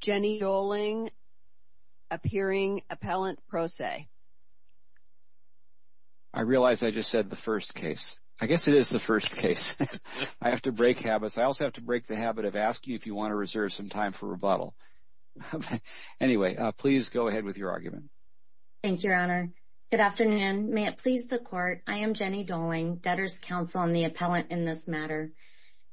Jenny Doling, Appearing Appellant Pro Se I realize I just said the first case. I guess it is the first case. I have to break habits. I also have to break the habit of asking if you want to reserve some time for rebuttal. Anyway, please go ahead with your argument. Thank you, Your Honor. Good afternoon. May it please the Court. I am Jenny Doling, Debtors' Counsel and the Appellant in this matter.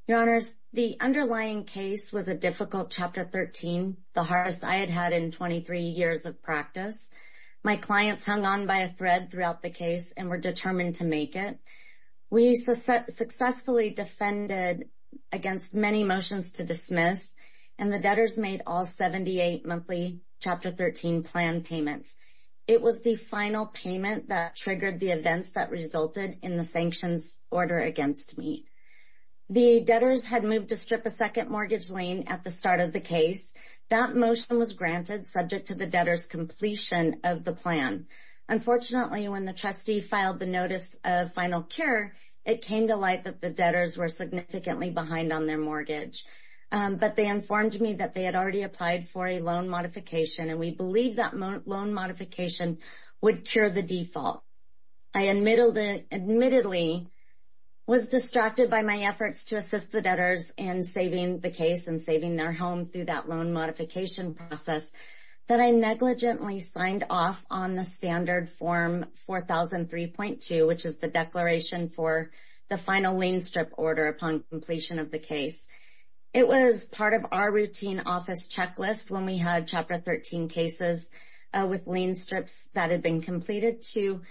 Your Honors, the underlying case was a difficult Chapter 13, the hardest I had had in 23 years of practice. My clients hung on by a thread throughout the case and were determined to make it. We successfully defended against many motions to dismiss, and the debtors made all 78 monthly Chapter 13 plan payments. It was the final payment that triggered the events that resulted in the sanctions order against me. The debtors had moved to strip a second mortgage lien at the start of the case. That motion was granted subject to the debtors' completion of the plan. Unfortunately, when the trustee filed the notice of final cure, it came to light that the debtors were significantly behind on their mortgage. But they informed me that they had already applied for a loan modification, and we believed that loan modification would cure the default. I admittedly was distracted by my efforts to assist the debtors in saving the case and saving their home through that loan modification process that I negligently signed off on the standard Form 4003.2, which is the declaration for the final lien strip order upon completion of the case. It was part of our routine office checklist when we had Chapter 13 cases with lien strips that had been completed to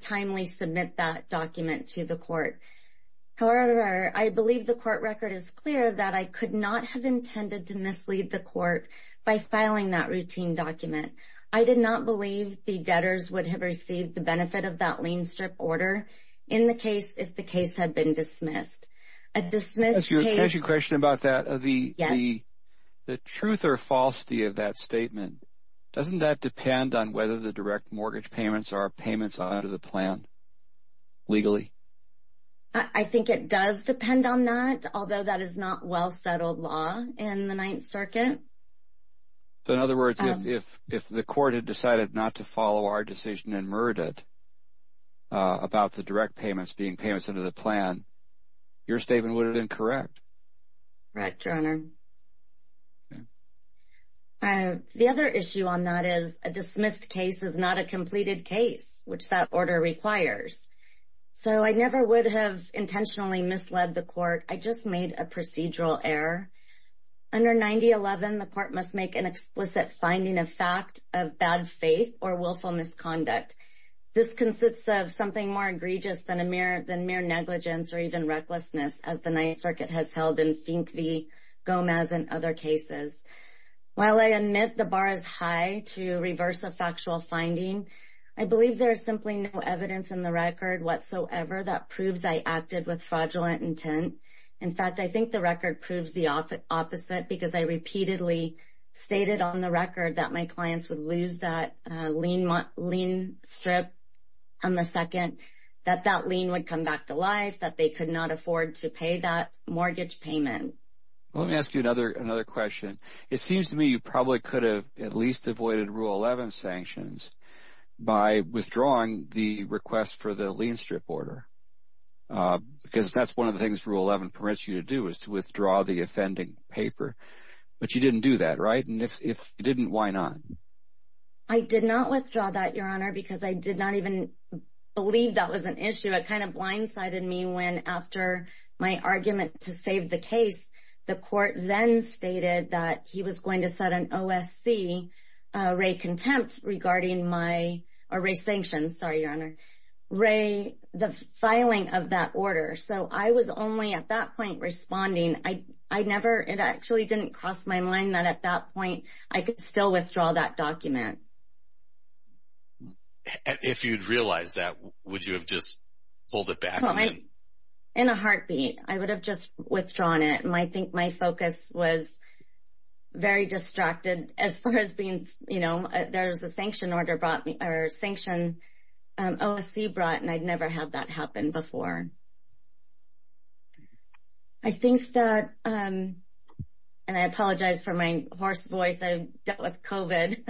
timely submit that document to the court. However, I believe the court record is clear that I could not have intended to mislead the court by filing that routine document. I did not believe the debtors would have received the benefit of that lien strip order in the case if the case had been dismissed. Can I ask you a question about that? Yes. The truth or falsity of that statement, doesn't that depend on whether the direct mortgage payments are payments under the plan legally? I think it does depend on that, although that is not well-settled law in the Ninth Circuit. In other words, if the court had decided not to follow our decision and murdered about the direct payments being payments under the plan, your statement would have been correct. Correct, Your Honor. The other issue on that is a dismissed case is not a completed case, which that order requires. So I never would have intentionally misled the court. I just made a procedural error. Under 9011, the court must make an explicit finding of fact of bad faith or willful misconduct. This consists of something more egregious than mere negligence or even recklessness, as the Ninth Circuit has held in Fink v. Gomez and other cases. While I admit the bar is high to reverse a factual finding, I believe there is simply no evidence in the record whatsoever that proves I acted with fraudulent intent. In fact, I think the record proves the opposite because I repeatedly stated on the record that my clients would lose that lien strip on the second, that that lien would come back to life, that they could not afford to pay that mortgage payment. Let me ask you another question. It seems to me you probably could have at least avoided Rule 11 sanctions by withdrawing the request for the lien strip order because that's one of the things Rule 11 permits you to do is to withdraw the offending paper. But you didn't do that, right? And if you didn't, why not? I did not withdraw that, Your Honor, because I did not even believe that was an issue. It kind of blindsided me when, after my argument to save the case, the court then stated that he was going to set an OSC rate contempt regarding my – or rate sanctions, sorry, Your Honor – rate the filing of that order. So I was only at that point responding. I never – it actually didn't cross my mind that at that point I could still withdraw that document. If you'd realized that, would you have just pulled it back? In a heartbeat, I would have just withdrawn it. And I think my focus was very distracted as far as being – you know, there was a sanction order brought – or sanction OSC brought, and I'd never had that happen before. I think that – and I apologize for my hoarse voice. I've dealt with COVID,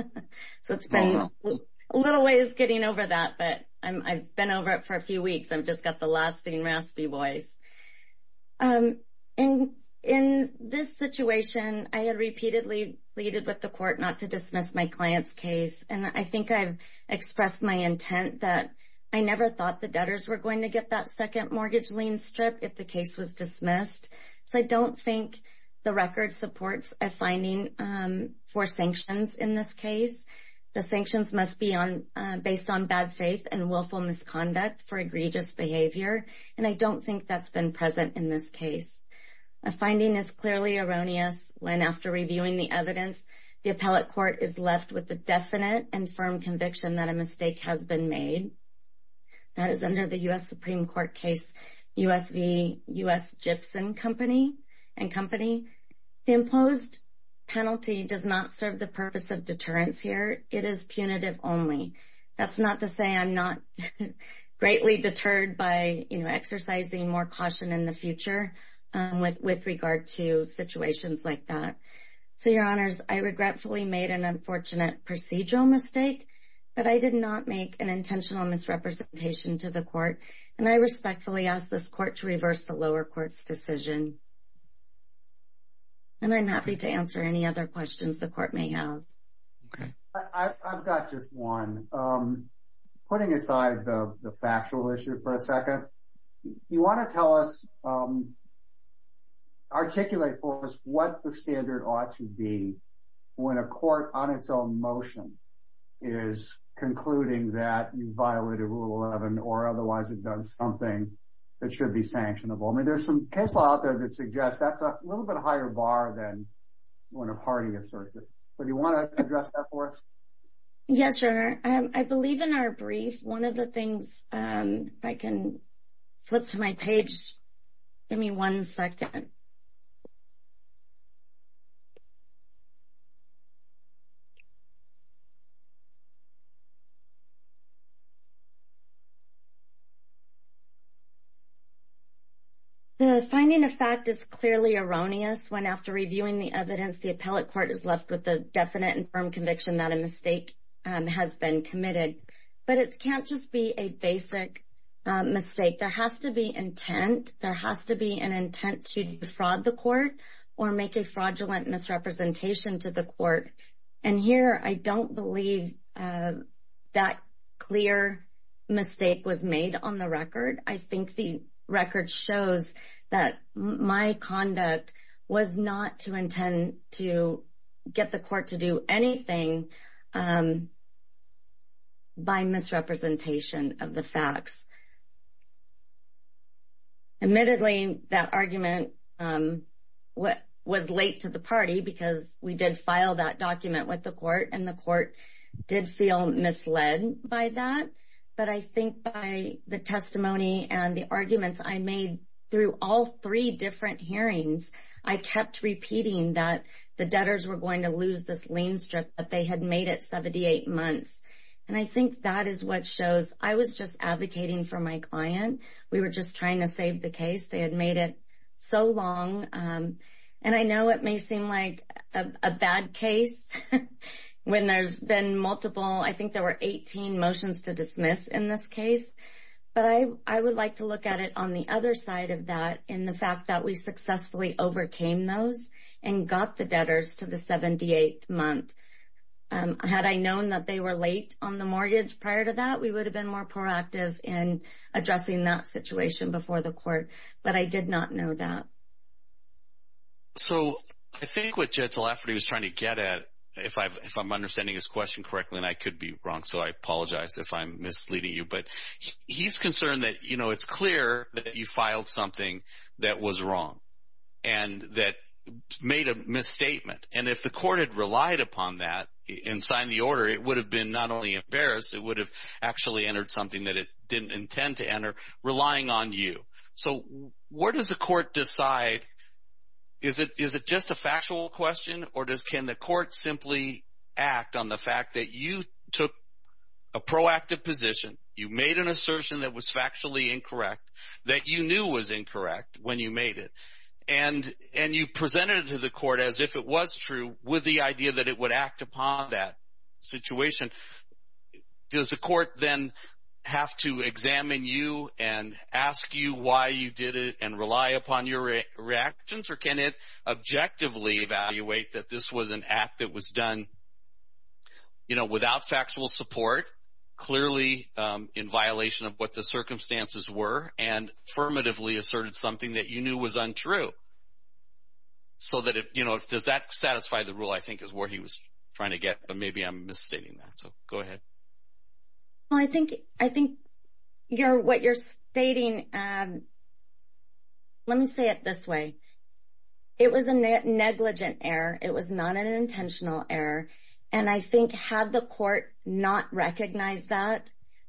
so it's been a little ways getting over that, but I've been over it for a few weeks. I've just got the lasting raspy voice. In this situation, I had repeatedly pleaded with the court not to dismiss my client's case. And I think I've expressed my intent that I never thought the debtors were going to get that second mortgage lien strip if the case was dismissed. So I don't think the record supports a finding for sanctions in this case. The sanctions must be based on bad faith and willful misconduct for egregious behavior. And I don't think that's been present in this case. A finding is clearly erroneous when, after reviewing the evidence, the appellate court is left with the definite and firm conviction that a mistake has been made. That is under the U.S. Supreme Court case U.S. v. U.S. Gibson and Company. The imposed penalty does not serve the purpose of deterrence here. It is punitive only. That's not to say I'm not greatly deterred by exercising more caution in the future with regard to situations like that. So, Your Honors, I regretfully made an unfortunate procedural mistake, but I did not make an intentional misrepresentation to the court. And I respectfully ask this court to reverse the lower court's decision. And I'm happy to answer any other questions the court may have. I've got just one. Putting aside the factual issue for a second, you want to tell us, articulate for us what the standard ought to be when a court on its own motion is concluding that you violated Rule 11 or otherwise it does something that should be sanctionable. I mean, there's some case law out there that suggests that's a little bit higher bar than when a party asserts it. Do you want to address that for us? Yes, Your Honor. I believe in our brief, one of the things, if I can flip to my page, give me one second. The finding of fact is clearly erroneous when, after reviewing the evidence, the appellate court is left with the definite and firm conviction that a mistake has been committed. But it can't just be a basic mistake. There has to be intent. There has to be an intent to defraud the court or make a fraudulent misrepresentation to the court. And here, I don't believe that clear mistake was made on the record. I think the record shows that my conduct was not to intend to get the court to do anything by misrepresentation of the facts. Admittedly, that argument was late to the party because we did file that document with the court, and the court did feel misled by that. But I think by the testimony and the arguments I made through all three different hearings, I kept repeating that the debtors were going to lose this lien strip, that they had made it 78 months. And I think that is what shows I was just advocating for my client. We were just trying to save the case. They had made it so long. And I know it may seem like a bad case when there's been multiple, I think there were 18 motions to dismiss in this case. But I would like to look at it on the other side of that in the fact that we successfully overcame those and got the debtors to the 78th month. Had I known that they were late on the mortgage prior to that, we would have been more proactive in addressing that situation before the court. But I did not know that. So I think what Judge Lafferty was trying to get at, if I'm understanding his question correctly, and I could be wrong, so I apologize if I'm misleading you, but he's concerned that it's clear that you filed something that was wrong and that made a misstatement. And if the court had relied upon that and signed the order, it would have been not only embarrassed, it would have actually entered something that it didn't intend to enter, relying on you. So where does the court decide, is it just a factual question or can the court simply act on the fact that you took a proactive position, you made an assertion that was factually incorrect, that you knew was incorrect when you made it, and you presented it to the court as if it was true with the idea that it would act upon that situation. Does the court then have to examine you and ask you why you did it and rely upon your reactions, or can it objectively evaluate that this was an act that was done without factual support, clearly in violation of what the circumstances were, and affirmatively asserted something that you knew was untrue? So does that satisfy the rule I think is where he was trying to get, but maybe I'm misstating that. So go ahead. Well, I think what you're stating, let me say it this way. It was a negligent error. It was not an intentional error. And I think had the court not recognized that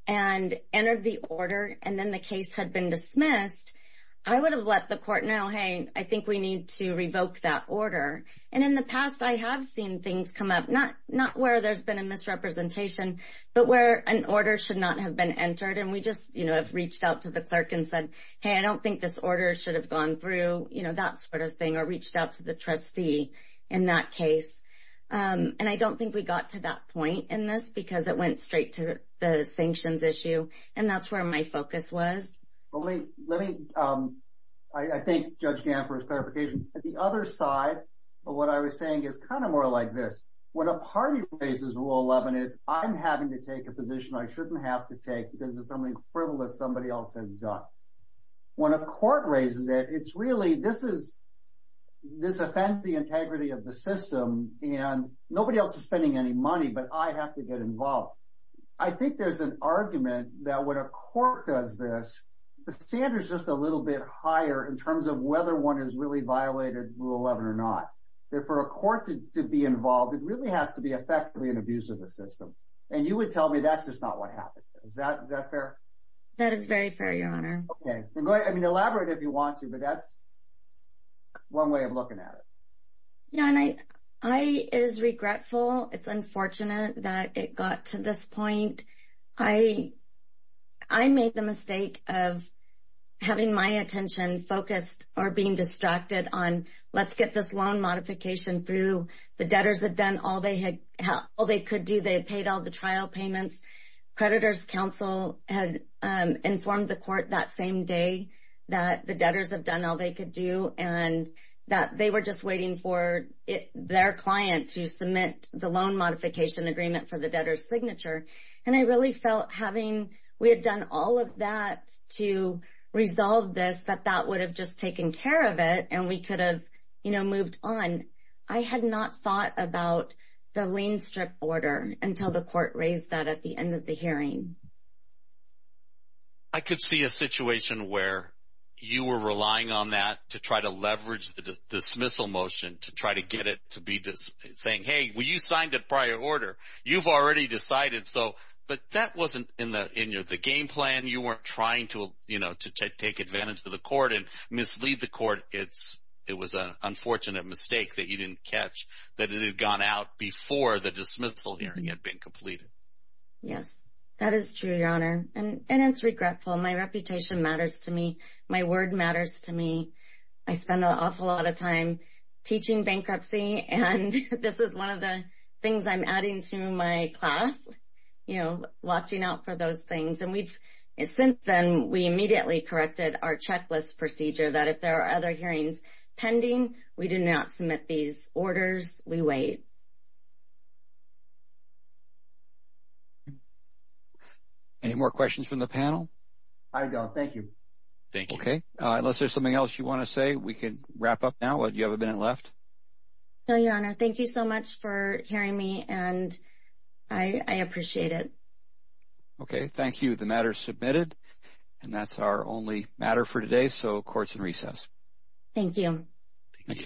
and entered the order and then the case had been dismissed, I would have let the court know, hey, I think we need to revoke that order. And in the past I have seen things come up, not where there's been a misrepresentation, but where an order should not have been entered, and we just, you know, have reached out to the clerk and said, hey, I don't think this order should have gone through, you know, that sort of thing, or reached out to the trustee in that case. And I don't think we got to that point in this because it went straight to the sanctions issue, and that's where my focus was. Let me, I thank Judge Gant for his clarification. At the other side of what I was saying is kind of more like this. When a party raises Rule 11, it's I'm having to take a position I shouldn't have to take because it's something frivolous somebody else has done. When a court raises it, it's really this is, this offends the integrity of the system, and nobody else is spending any money, but I have to get involved. I think there's an argument that when a court does this, the standard is just a little bit higher in terms of whether one has really violated Rule 11 or not. For a court to be involved, it really has to be effectively an abuse of the system. And you would tell me that's just not what happened. Is that fair? That is very fair, Your Honor. Okay. I mean, elaborate if you want to, but that's one way of looking at it. Yeah, and I is regretful. It's unfortunate that it got to this point. I made the mistake of having my attention focused or being distracted on let's get this loan modification through. The debtors had done all they could do. They had paid all the trial payments. Creditor's counsel had informed the court that same day that the debtors had done all they could do and that they were just waiting for their client to submit the loan modification agreement for the debtor's signature. And I really felt having we had done all of that to resolve this, that that would have just taken care of it and we could have moved on. I had not thought about the lien strip order until the court raised that at the end of the hearing. I could see a situation where you were relying on that to try to leverage the dismissal motion, to try to get it to be saying, hey, well, you signed a prior order. You've already decided so. But that wasn't in the game plan. You weren't trying to take advantage of the court and mislead the court. It was an unfortunate mistake that you didn't catch that it had gone out before the dismissal hearing had been completed. Yes, that is true, Your Honor. And it's regretful. My reputation matters to me. My word matters to me. I spend an awful lot of time teaching bankruptcy, and this is one of the things I'm adding to my class, you know, watching out for those things. And since then, we immediately corrected our checklist procedure that if there are other hearings pending, we do not submit these orders. We wait. Any more questions from the panel? I'm done. Thank you. Okay. Unless there's something else you want to say, we can wrap up now. You have a minute left. No, Your Honor. Thank you so much for hearing me, and I appreciate it. Okay. Thank you. The matter is submitted. And that's our only matter for today, so court's in recess. Thank you. Thank you.